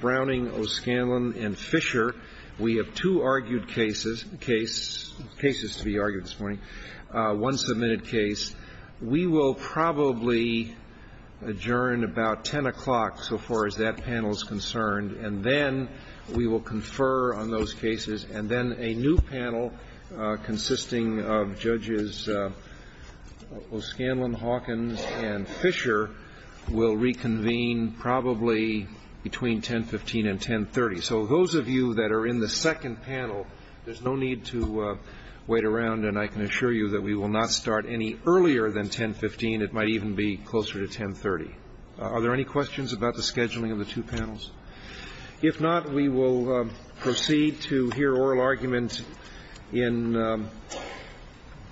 Browning, O'Scanlan, and Fisher. We have two argued cases, cases to be argued this morning, one submitted case. We will probably adjourn about 10 o'clock, so far as that panel is concerned, and then we will confer on those cases, and then a new panel consisting of Judges O'Scanlan, Hawkins, and Fisher will reconvene probably between 10.15 and 10.30. So those of you that are in the second panel, there's no need to wait around, and I can assure you that we will not start any earlier than 10.15. It might even be closer to 10.30. Are there any questions about the scheduling of the two panels? If not, we will proceed to hear oral arguments in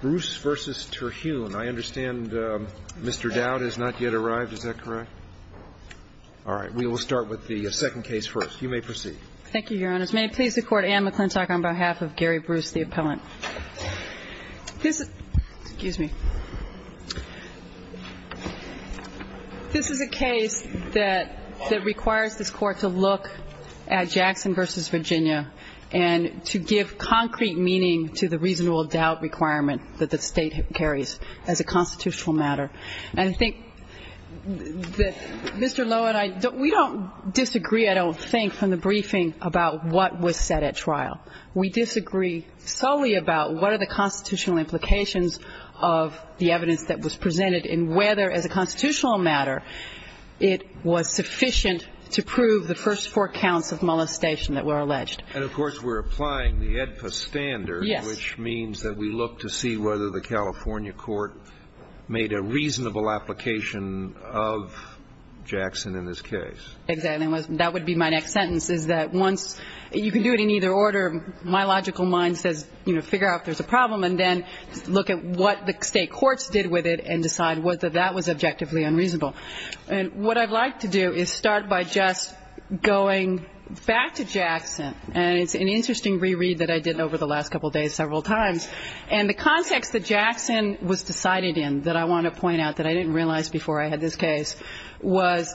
Bruce v. Terhune. I understand Mr. Dowd has not yet arrived. Is that correct? All right. We will start with the second case first. You may proceed. Thank you, Your Honors. May it please the Court, Anne McClintock on behalf of Gary Bruce, the appellant. This is a case that requires this Court to look at Jackson v. Virginia and to give concrete meaning to the reasonable doubt requirement that the State carries as a constitutional matter. And I think that Mr. Lowe and I, we don't disagree, I don't think, from the briefing about what was said at trial. We disagree solely about what are the constitutional implications of the evidence that was presented and whether as a constitutional matter it was sufficient to prove the first four counts of molestation that were alleged. And of course we're applying the AEDPA standard, which means that we look to see whether the California court made a reasonable application of Jackson in this case. Exactly. That would be my next sentence, is that once you can do it in either order, my logical mind says figure out if there's a problem and then look at what the State courts did with it and decide whether that was objectively unreasonable. And what I'd like to do is start by just going back to Jackson. And it's an interesting reread that I did over the last couple days several times. And the context that Jackson was decided in that I want to point out that I didn't realize before I had this case was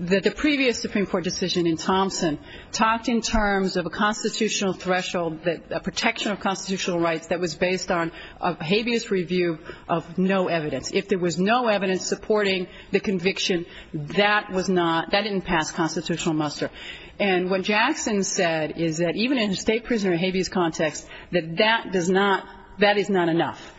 that the previous Supreme Court decision in Thompson talked in terms of a constitutional threshold, a protection of constitutional rights that was based on a habeas review of no evidence. If there was no evidence supporting the conviction, that was not, that didn't pass constitutional muster. And what Jackson said is that even in a State prisoner of habeas context, that that does not, that is not enough.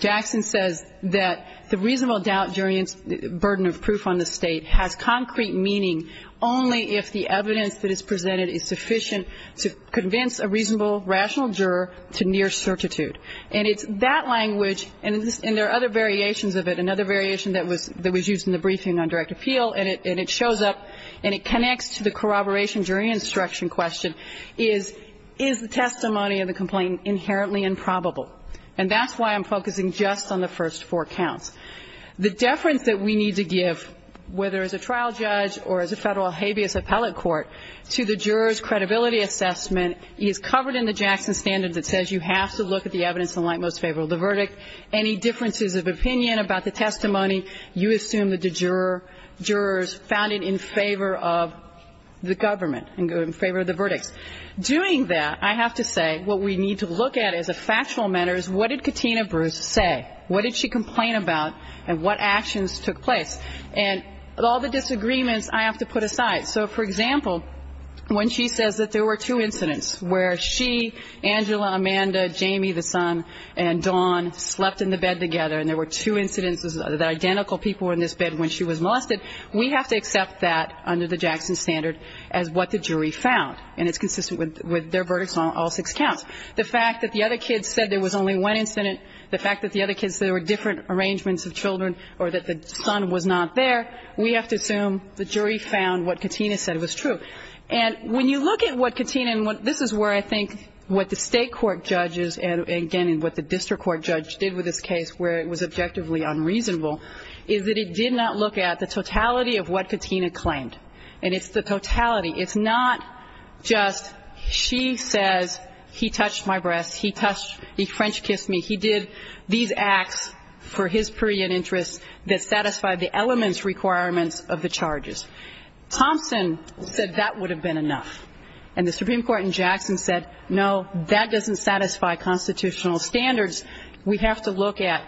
Jackson says that the reasonable doubt jury burden of proof on the State has concrete meaning only if the evidence that is presented is sufficient to convince a reasonable, rational juror to near certitude. And it's that language, and there are other variations of it, another variation that was used in the briefing on direct appeal, and it shows up and it connects to the corroboration jury instruction question is, is the testimony of the complainant inherently improbable? And that's why I'm focusing just on the first four counts. The deference that we need to give, whether as a trial judge or as a federal habeas appellate court, to the juror's credibility assessment is covered in the Jackson standard that says you have to look at the evidence in light most favorable of the verdict, any differences of opinion about the testimony, you assume that the jurors found it in favor of the government, in favor of the verdicts. Doing that, I have to say what we need to look at as a factual matter is what did Katina Bruce say? What did she complain about, and what actions took place? And all the disagreements I have to put aside. So, for example, when she says that there were two incidents where she, Angela, Amanda, Jamie, the son, and Dawn slept in the bed together, and there were two incidents that identical people were in this bed when she was molested, we have to accept that under the Jackson standard as what the jury found. And it's consistent with their verdicts on all six counts. The fact that the other kids said there was only one incident, the fact that the other kids said there were different arrangements of children or that the son was not there, we have to assume the jury found what Katina said was true. And when you look at what Katina, and this is where I think what the State court judges and, again, what the district court judge did with this case where it was objectively unreasonable, is that it did not look at the totality of what Katina claimed. And it's the totality. It's not just she says he touched my breasts, he French kissed me. He did these acts for his period interests that satisfied the elements requirements of the charges. Thompson said that would have been enough. And the Supreme Court in Jackson said, no, that doesn't satisfy constitutional standards. We have to look at,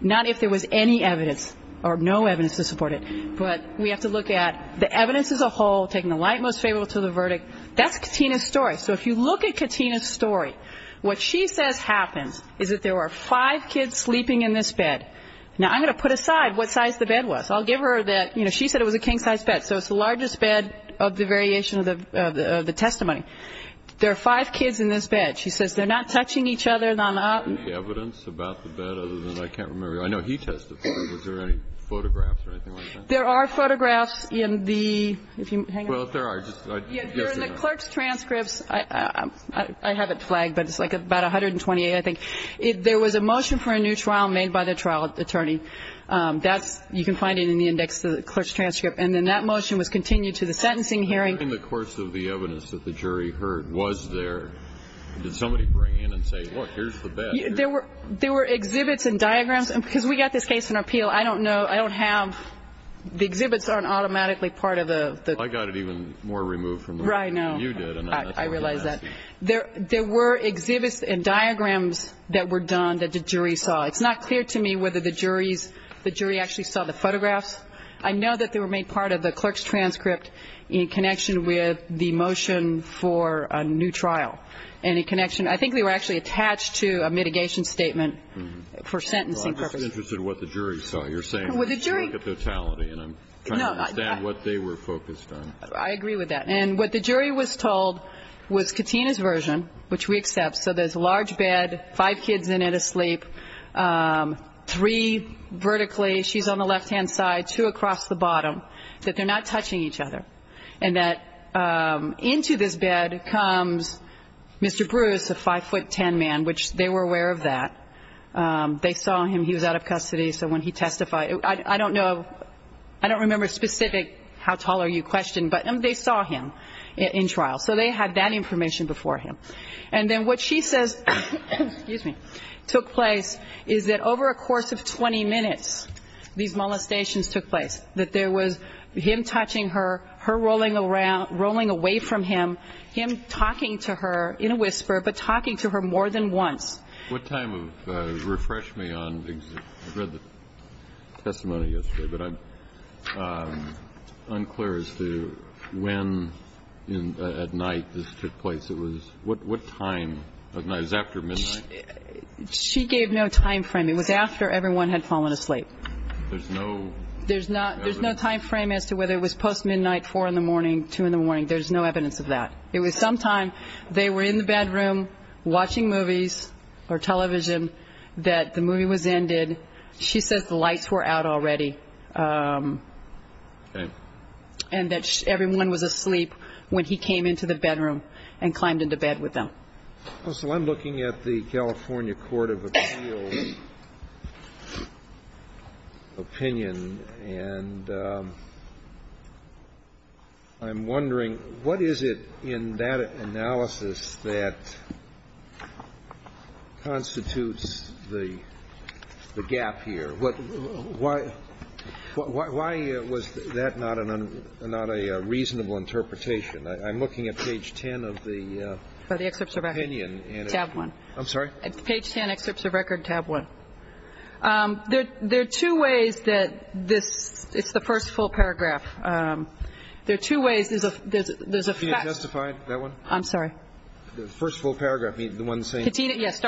not if there was any evidence or no evidence to support it, but we have to look at the evidence as a whole, taking the light most favorable to the verdict. That's Katina's story. So if you look at Katina's story, what she says happens is that there were five kids sleeping in this bed. Now, I'm going to put aside what size the bed was. I'll give her that, you know, she said it was a king size bed, so it's the largest bed of the variation of the testimony. There are five kids in this bed. She says they're not touching each other. I don't have any evidence about the bed other than I can't remember. I know he testified. Was there any photographs or anything like that? There are photographs in the, if you hang on. Well, there are. During the clerk's transcripts, I have it flagged, but it's like about 128, I think. There was a motion for a new trial made by the trial attorney. That's, you can find it in the index of the clerk's transcript. And then that motion was continued to the sentencing hearing. During the course of the evidence that the jury heard, was there, did somebody bring in and say, Look, here's the bed. There were exhibits and diagrams. Because we got this case in appeal, I don't know, I don't have, the exhibits aren't automatically part of the... I got it even more removed from the... Right, no. You did. I realize that. There were exhibits and diagrams that were done that the jury saw. It's not clear to me whether the jury actually saw the photographs. I know that they were made part of the clerk's transcript in connection with the motion for a new trial. And in connection... I think they were actually attached to a mitigation statement for sentencing purposes. Well, I'm just interested in what the jury saw. You're saying... Well, the jury... Look at the totality, and I'm trying to understand what they were focused on. I agree with that. And what the jury was told was Katina's version, which we accept. So there's a large bed, five kids in it asleep, three vertically. She's on the left-hand side, two across the bottom, that they're not touching each other, and that into this bed comes Mr. Bruce, a 5'10 man, which they were aware of that. They saw him. He was out of custody, so when he testified... I don't know... I don't remember specific how tall are you question, but they saw him in trial. So they had that information before him. And then what she says took place is that over a course of 20 minutes, these molestations took place. That there was him touching her, her rolling around, rolling away from him, him talking to her in a whisper, but talking to her more than once. What time of... Refresh me on... I read the testimony yesterday, but I'm unclear as to when at night this took place. It was what time of night? It was after midnight? She gave no time frame. It was after everyone had fallen asleep. There's no evidence... There's no time frame as to whether it was post-midnight, 4 in the morning, 2 in the morning. There's no evidence of that. It was sometime they were in the bedroom watching movies or television that the movie was ended. She says the lights were out already. Okay. And that everyone was asleep when he came into the bedroom and climbed into bed with them. Well, so I'm looking at the California Court of Appeals' opinion, and I'm wondering what is it in that analysis that constitutes the gap here? Why was that not a reasonable interpretation? I'm looking at page 10 of the opinion. Of the excerpts of record, tab 1. I'm sorry? Page 10, excerpts of record, tab 1. There are two ways that this is the first full paragraph. There are two ways. There's a fact... Katina testified, that one? I'm sorry. The first full paragraph, the one saying... Katina, yes.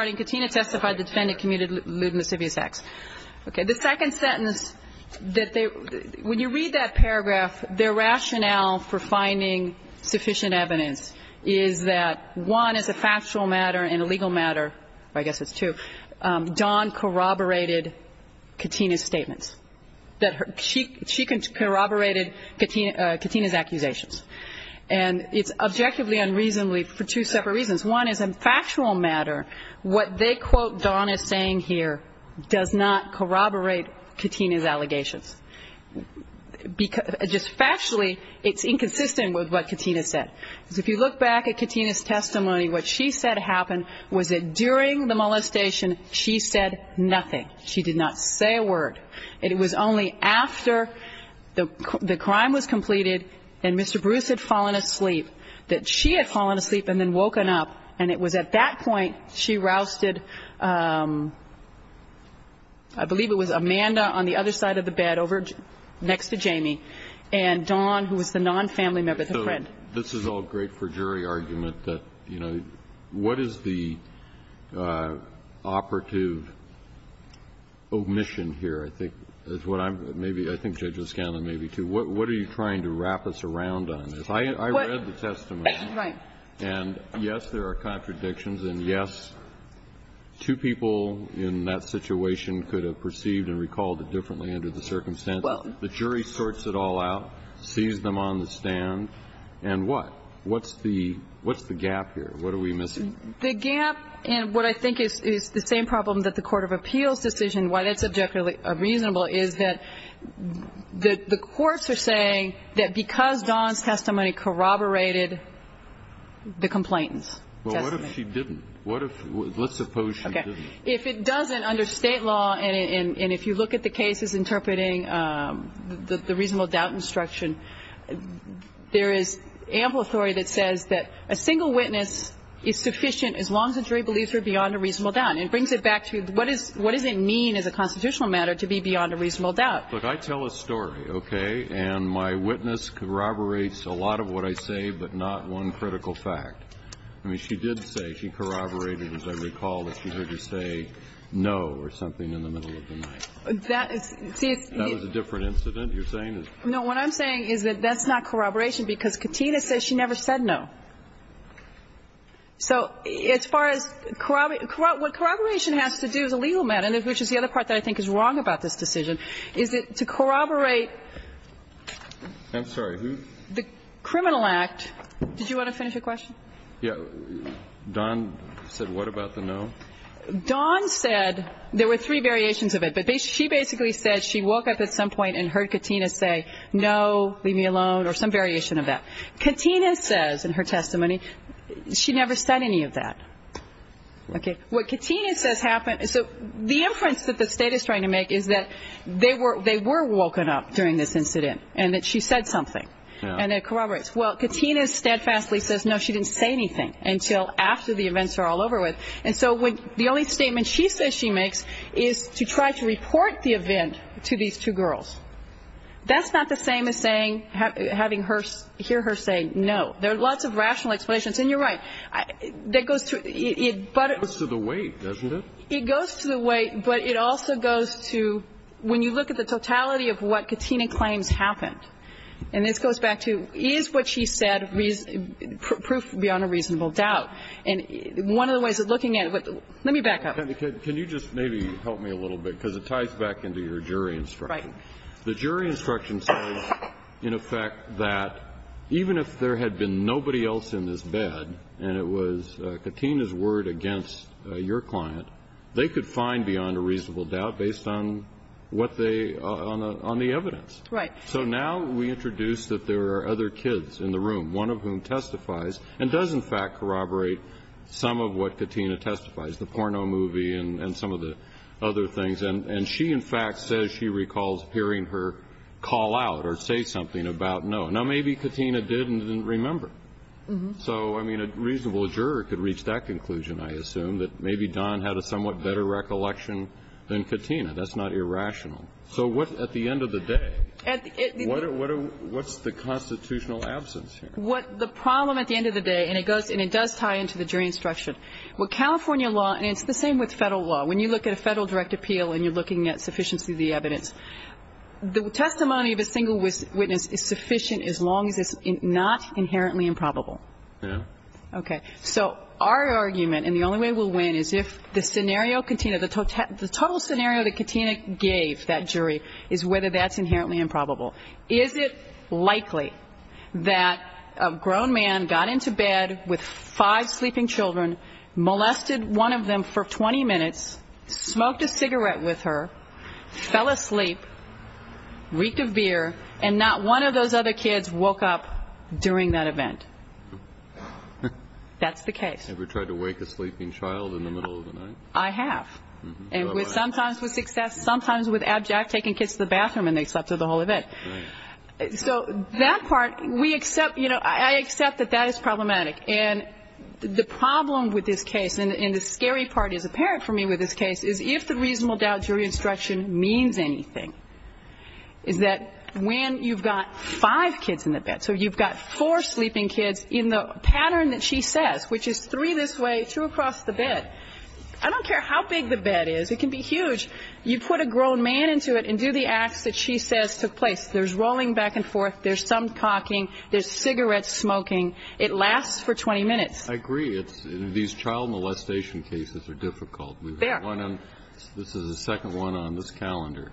Okay. The second sentence, when you read that paragraph, their rationale for finding sufficient evidence is that one, as a factual matter and a legal matter, I guess it's two, Don corroborated Katina's statements. She corroborated Katina's accusations. And it's objectively unreasonably for two separate reasons. One is, in a factual matter, what they quote Don as saying here does not corroborate Katina's allegations. Just factually, it's inconsistent with what Katina said. If you look back at Katina's testimony, what she said happened was that during the molestation, she said nothing. She did not say a word. It was only after the crime was completed and Mr. Bruce had fallen asleep, that she had fallen asleep and then woken up. And it was at that point she rousted, I believe it was Amanda on the other side of the bed over next to Jamie, and Don, who was the non-family member, the friend. So this is all great for jury argument, but, you know, what is the operative omission here, I think, is what I'm, maybe, I think Judges Scanlon, maybe, too. What are you trying to wrap us around on? I read the testimony. Right. And, yes, there are contradictions. And, yes, two people in that situation could have perceived and recalled it differently under the circumstances. The jury sorts it all out, sees them on the stand, and what? What's the gap here? What are we missing? The gap, and what I think is the same problem that the court of appeals decision, why that's objectively reasonable is that the courts are saying that because Don's testimony corroborated the complainant's testimony. Well, what if she didn't? What if, let's suppose she didn't? Okay. If it doesn't, under State law, and if you look at the cases interpreting the reasonable doubt instruction, there is ample authority that says that a single witness is sufficient as long as the jury believes her beyond a reasonable doubt. And so that's a very good point. And it brings it back to what does it mean as a constitutional matter to be beyond a reasonable doubt? Look, I tell a story, okay? And my witness corroborates a lot of what I say, but not one critical fact. I mean, she did say she corroborated, as I recall, that she heard you say no or something in the middle of the night. That is the issue. That was a different incident you're saying? No. What I'm saying is that that's not corroboration because Katina says she never said no. So as far as corroboration, what corroboration has to do as a legal matter, which is the other part that I think is wrong about this decision, is that to corroborate the criminal act. I'm sorry. Did you want to finish your question? Yeah. Don said what about the no? Don said there were three variations of it, but she basically said she woke up at some point and heard Katina say no, leave me alone, or some variation of that. Katina says in her testimony she never said any of that. Okay. What Katina says happened, so the inference that the State is trying to make is that they were woken up during this incident and that she said something. Yeah. And it corroborates. Well, Katina steadfastly says no, she didn't say anything until after the events are all over with. And so the only statement she says she makes is to try to report the event to these two girls. That's not the same as saying, having her, hear her say no. There are lots of rational explanations. And you're right. That goes to the weight, doesn't it? It goes to the weight, but it also goes to when you look at the totality of what Katina claims happened, and this goes back to is what she said proof beyond a reasonable doubt. And one of the ways of looking at it, let me back up. Can you just maybe help me a little bit, because it ties back into your jury instruction. Right. The jury instruction says, in effect, that even if there had been nobody else in this bed and it was Katina's word against your client, they could find beyond a reasonable doubt based on what they, on the evidence. Right. So now we introduce that there are other kids in the room, one of whom testifies and does, in fact, corroborate some of what Katina testifies, the porno movie and some of the other things. And she, in fact, says she recalls hearing her call out or say something about no. Now, maybe Katina did and didn't remember. So, I mean, a reasonable juror could reach that conclusion, I assume, that maybe Don had a somewhat better recollection than Katina. That's not irrational. So what, at the end of the day, what's the constitutional absence here? What the problem at the end of the day, and it does tie into the jury instruction, what California law, and it's the same with Federal law. When you look at a Federal direct appeal and you're looking at sufficiency of the evidence, the testimony of a single witness is sufficient as long as it's not inherently improbable. Okay. So our argument, and the only way we'll win, is if the scenario Katina, the total scenario that Katina gave that jury is whether that's inherently improbable. Is it likely that a grown man got into bed with five sleeping children, molested one of them for 20 minutes, smoked a cigarette with her, fell asleep, reeked of beer, and not one of those other kids woke up during that event? That's the case. Ever tried to wake a sleeping child in the middle of the night? I have. And sometimes with success, sometimes with abject, taking kids to the bathroom and they slept through the whole event. Right. So that part, we accept, you know, I accept that that is problematic. And the problem with this case, and the scary part is apparent for me with this case, is if the reasonable doubt jury instruction means anything, is that when you've got five kids in the bed, so you've got four sleeping kids in the pattern that she says, which is three this way, two across the bed. I don't care how big the bed is. It can be huge. You put a grown man into it and do the acts that she says took place. There's rolling back and forth. There's some talking. There's cigarette smoking. It lasts for 20 minutes. I agree. These child molestation cases are difficult. There. This is the second one on this calendar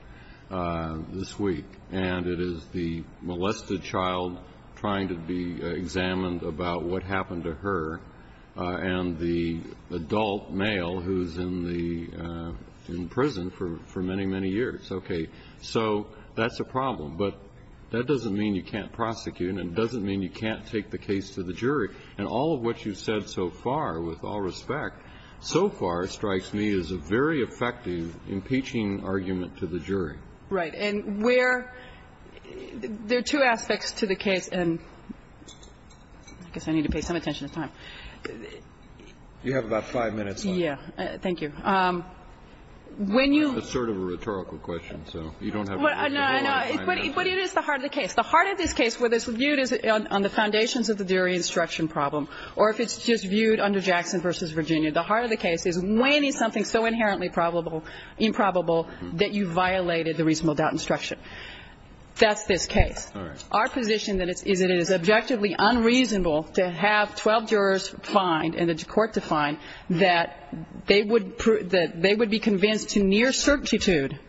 this week. And it is the molested child trying to be examined about what happened to her. And the adult male who's in the prison for many, many years. Okay. So that's a problem. But that doesn't mean you can't prosecute, and it doesn't mean you can't take the case to the jury. And all of what you've said so far, with all respect, so far strikes me as a very effective impeaching argument to the jury. Right. And where the two aspects to the case, and I guess I need to pay some attention to time. You have about five minutes left. Yeah. Thank you. When you. It's sort of a rhetorical question, so you don't have to. No, I know. But it is the heart of the case. The heart of this case, whether it's viewed on the foundations of the jury instruction problem, or if it's just viewed under Jackson v. Virginia, the heart of the case is when is something so inherently probable, improbable, that you violated the reasonable doubt instruction? That's this case. All right. Well, our position is that it is objectively unreasonable to have 12 jurors fined and the court defined that they would be convinced to near certitude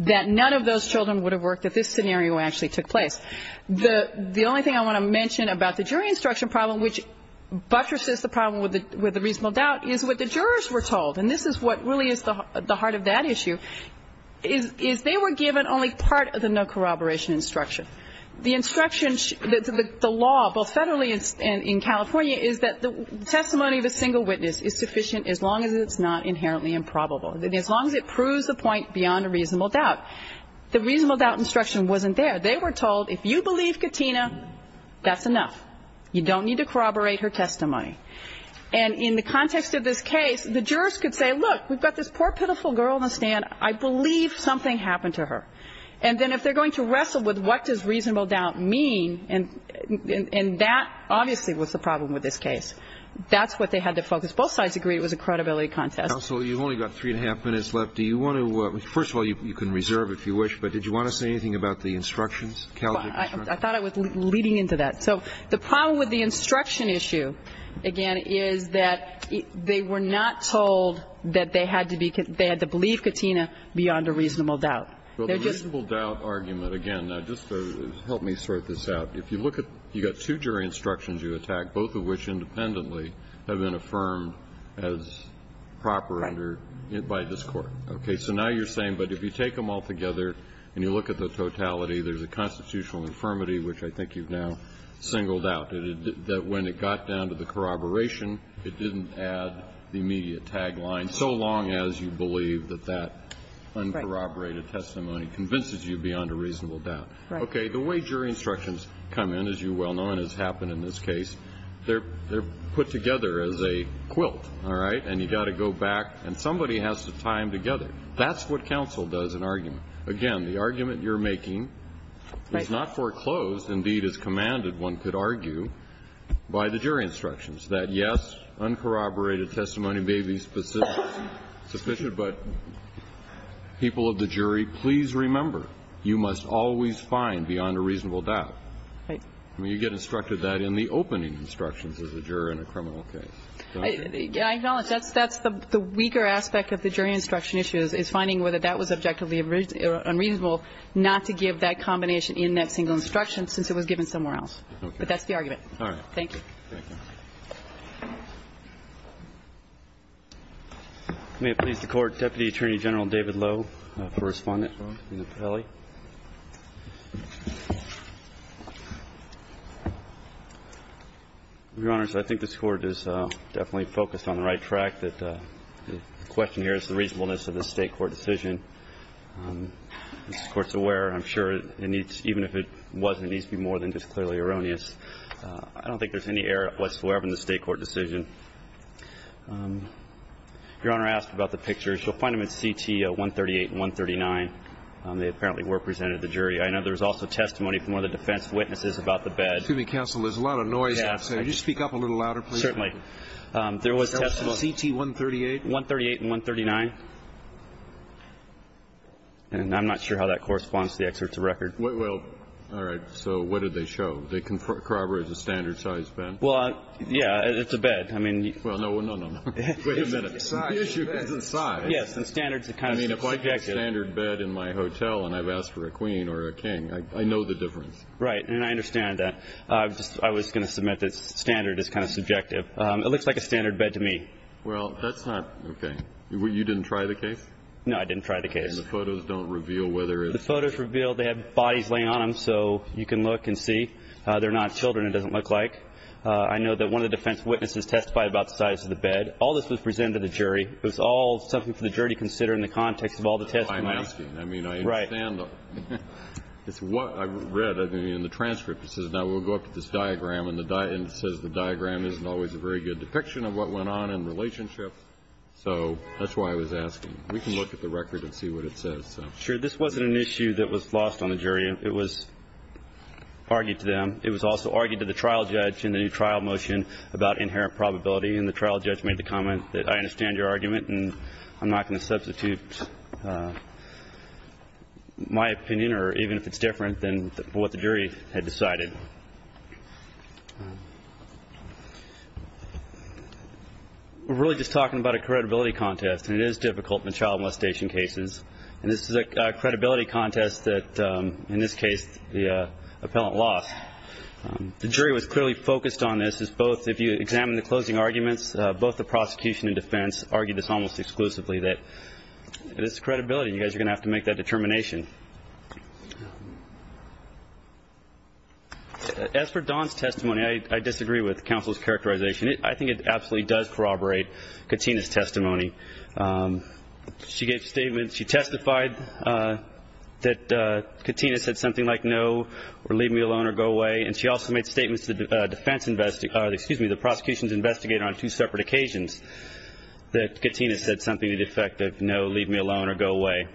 that none of those children would have worked if this scenario actually took place. The only thing I want to mention about the jury instruction problem, which buttresses the problem with the reasonable doubt, is what the jurors were told. And this is what really is the heart of that issue, is they were given only part of the no corroboration instruction. The instruction, the law, both federally and in California, is that the testimony of a single witness is sufficient as long as it's not inherently improbable, as long as it proves the point beyond a reasonable doubt. The reasonable doubt instruction wasn't there. They were told if you believe Katina, that's enough. You don't need to corroborate her testimony. And in the context of this case, the jurors could say, look, we've got this poor, pitiful girl on the stand. I believe something happened to her. And then if they're going to wrestle with what does reasonable doubt mean, and that obviously was the problem with this case, that's what they had to focus. Both sides agreed it was a credibility contest. Counsel, you've only got three and a half minutes left. Do you want to – first of all, you can reserve if you wish, but did you want to say anything about the instructions, Calgary instructions? I thought I was leading into that. So the problem with the instruction issue, again, is that they were not told that they had to believe Katina beyond a reasonable doubt. They're just – Well, the reasonable doubt argument, again, now just help me sort this out. If you look at – you've got two jury instructions you attack, both of which independently have been affirmed as proper under – by this Court. Right. Okay. So now you're saying, but if you take them all together and you look at the totality, there's a constitutional infirmity, which I think you've now singled out, that when it got down to the corroboration, it didn't add the immediate tagline, so long as you corroborated testimony convinces you beyond a reasonable doubt. Right. Okay. The way jury instructions come in, as you well know, and has happened in this case, they're put together as a quilt, all right, and you've got to go back and somebody has to tie them together. That's what counsel does in argument. Again, the argument you're making is not foreclosed. Indeed, as commanded, one could argue by the jury instructions that, yes, uncorroborated testimony may be sufficient, but people of the jury, please remember, you must always find beyond a reasonable doubt. Right. I mean, you get instructed that in the opening instructions as a juror in a criminal case. I acknowledge that's the weaker aspect of the jury instruction issue, is finding whether that was objectively unreasonable not to give that combination in that single instruction since it was given somewhere else. Okay. But that's the argument. All right. Thank you. May it please the Court, Deputy Attorney General David Lowe for Respondent in the patelli. Your Honors, I think this Court is definitely focused on the right track, that the question here is the reasonableness of the State court decision. This Court's aware, I'm sure, and even if it wasn't, it needs to be more than just clearly erroneous. I don't think there's any error whatsoever in the State court decision. Your Honor asked about the pictures. You'll find them in CT 138 and 139. They apparently were presented to the jury. I know there was also testimony from one of the defense witnesses about the bed. Excuse me, counsel. There's a lot of noise outside. Yes. Could you speak up a little louder, please? Certainly. There was testimony. CT 138? 138 and 139. And I'm not sure how that corresponds to the excerpts of record. Well, all right. So what did they show? They corroborate the standard size bed? Well, yeah. It's a bed. Well, no, no, no, no. Wait a minute. The issue isn't size. Yes. And standards are kind of subjective. I mean, if I get a standard bed in my hotel and I've asked for a queen or a king, I know the difference. Right. And I understand that. I was going to submit that standard is kind of subjective. It looks like a standard bed to me. Well, that's not okay. You didn't try the case? No, I didn't try the case. And the photos don't reveal whether it's? The photos reveal they have bodies laying on them so you can look and see. They're not children, it doesn't look like. I know that one of the defense witnesses testified about the size of the bed. All this was presented to the jury. It was all something for the jury to consider in the context of all the testimony. I'm asking. I mean, I understand. Right. It's what I read in the transcript. It says now we'll go up to this diagram and it says the diagram isn't always a very good depiction of what went on in relationship. So that's why I was asking. We can look at the record and see what it says. Sure. This wasn't an issue that was lost on the jury. It was argued to them. It was also argued to the trial judge in the new trial motion about inherent probability. And the trial judge made the comment that I understand your argument and I'm not going to substitute my opinion or even if it's different than what the jury had decided. We're really just talking about a credibility contest. And it is difficult in child molestation cases. And this is a credibility contest that in this case the appellant lost. The jury was clearly focused on this as both if you examine the closing arguments, both the prosecution and defense argued this almost exclusively that it is credibility. You guys are going to have to make that determination. As for Dawn's testimony, I disagree with counsel's characterization. She gave statements. She testified that Katina said something like no or leave me alone or go away. And she also made statements to the defense, excuse me, the prosecution's investigator on two separate occasions that Katina said something to the effect of no, leave me alone or go away.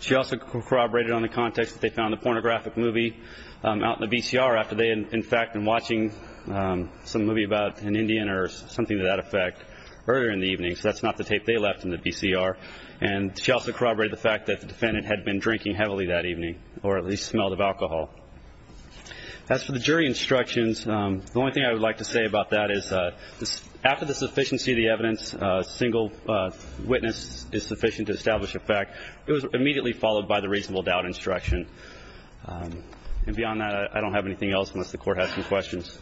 She also corroborated on the context that they found the pornographic movie out in the BCR after they had in fact been watching some movie about an Indian or something to that effect earlier in the evening. So that's not the tape they left in the BCR. And she also corroborated the fact that the defendant had been drinking heavily that evening or at least smelled of alcohol. As for the jury instructions, the only thing I would like to say about that is after the sufficiency of the evidence, a single witness is sufficient to establish a fact, it was immediately followed by the reasonable doubt instruction. And beyond that, I don't have anything else unless the Court has some questions.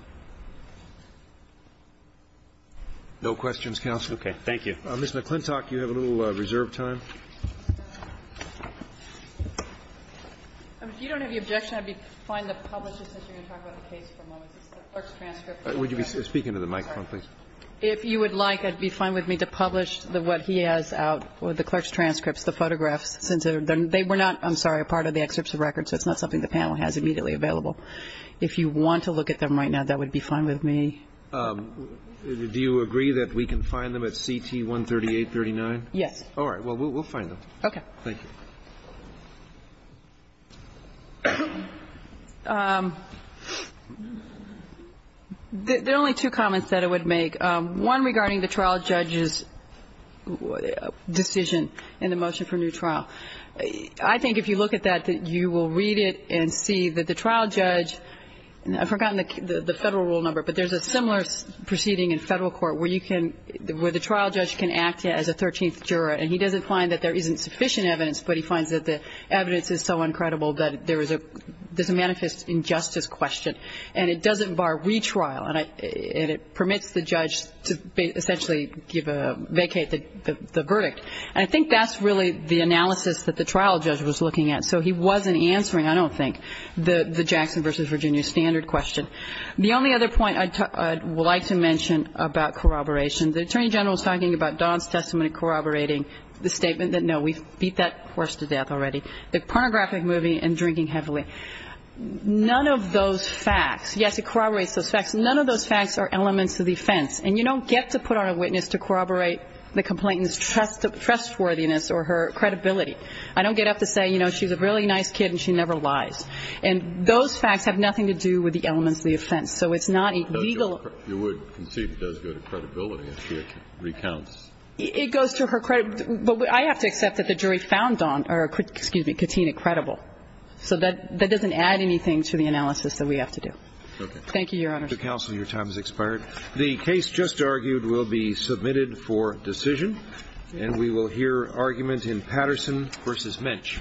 No questions, counsel. Okay. Thank you. Ms. McClintock, you have a little reserve time. If you don't have the objection, I'd be fine to publish it since you're going to talk about the case for a moment. It's the clerk's transcript. Would you be speaking to the microphone, please? If you would like, I'd be fine with me to publish what he has out, the clerk's transcripts, the photographs, since they were not, I'm sorry, a part of the excerpts of record, so it's not something the panel has immediately available. If you want to look at them right now, that would be fine with me. Do you agree that we can find them at CT 13839? Yes. All right. Well, we'll find them. Thank you. There are only two comments that I would make. One regarding the trial judge's decision in the motion for new trial. I think if you look at that, that you will read it and see that the trial judge and I've forgotten the Federal rule number, but there's a similar proceeding in Federal court where you can, where the trial judge can act as a 13th juror, and he doesn't find that there isn't sufficient evidence, but he finds that the evidence is so incredible that there is a, there's a manifest injustice question. And it doesn't bar retrial. And it permits the judge to essentially give a, vacate the verdict. And I think that's really the analysis that the trial judge was looking at. So he wasn't answering, I don't think, the Jackson versus Virginia standard question. The only other point I'd like to mention about corroboration, the Attorney General was talking about Don's testimony corroborating the statement that no, we beat that horse to death already. The pornographic movie and drinking heavily. None of those facts, yes, it corroborates those facts. None of those facts are elements of the offense. And you don't get to put on a witness to corroborate the complainant's trustworthiness or her credibility. I don't get up to say, you know, she's a really nice kid and she never lies. And those facts have nothing to do with the elements of the offense. So it's not a legal. Kennedy. You would concede it does go to credibility if she recounts. It goes to her credibility. But I have to accept that the jury found Don or, excuse me, Katina, credible. So that doesn't add anything to the analysis that we have to do. Okay. Counsel, your time has expired. The case just argued will be submitted for decision. And we will hear argument in Patterson v. Minch. Thank you.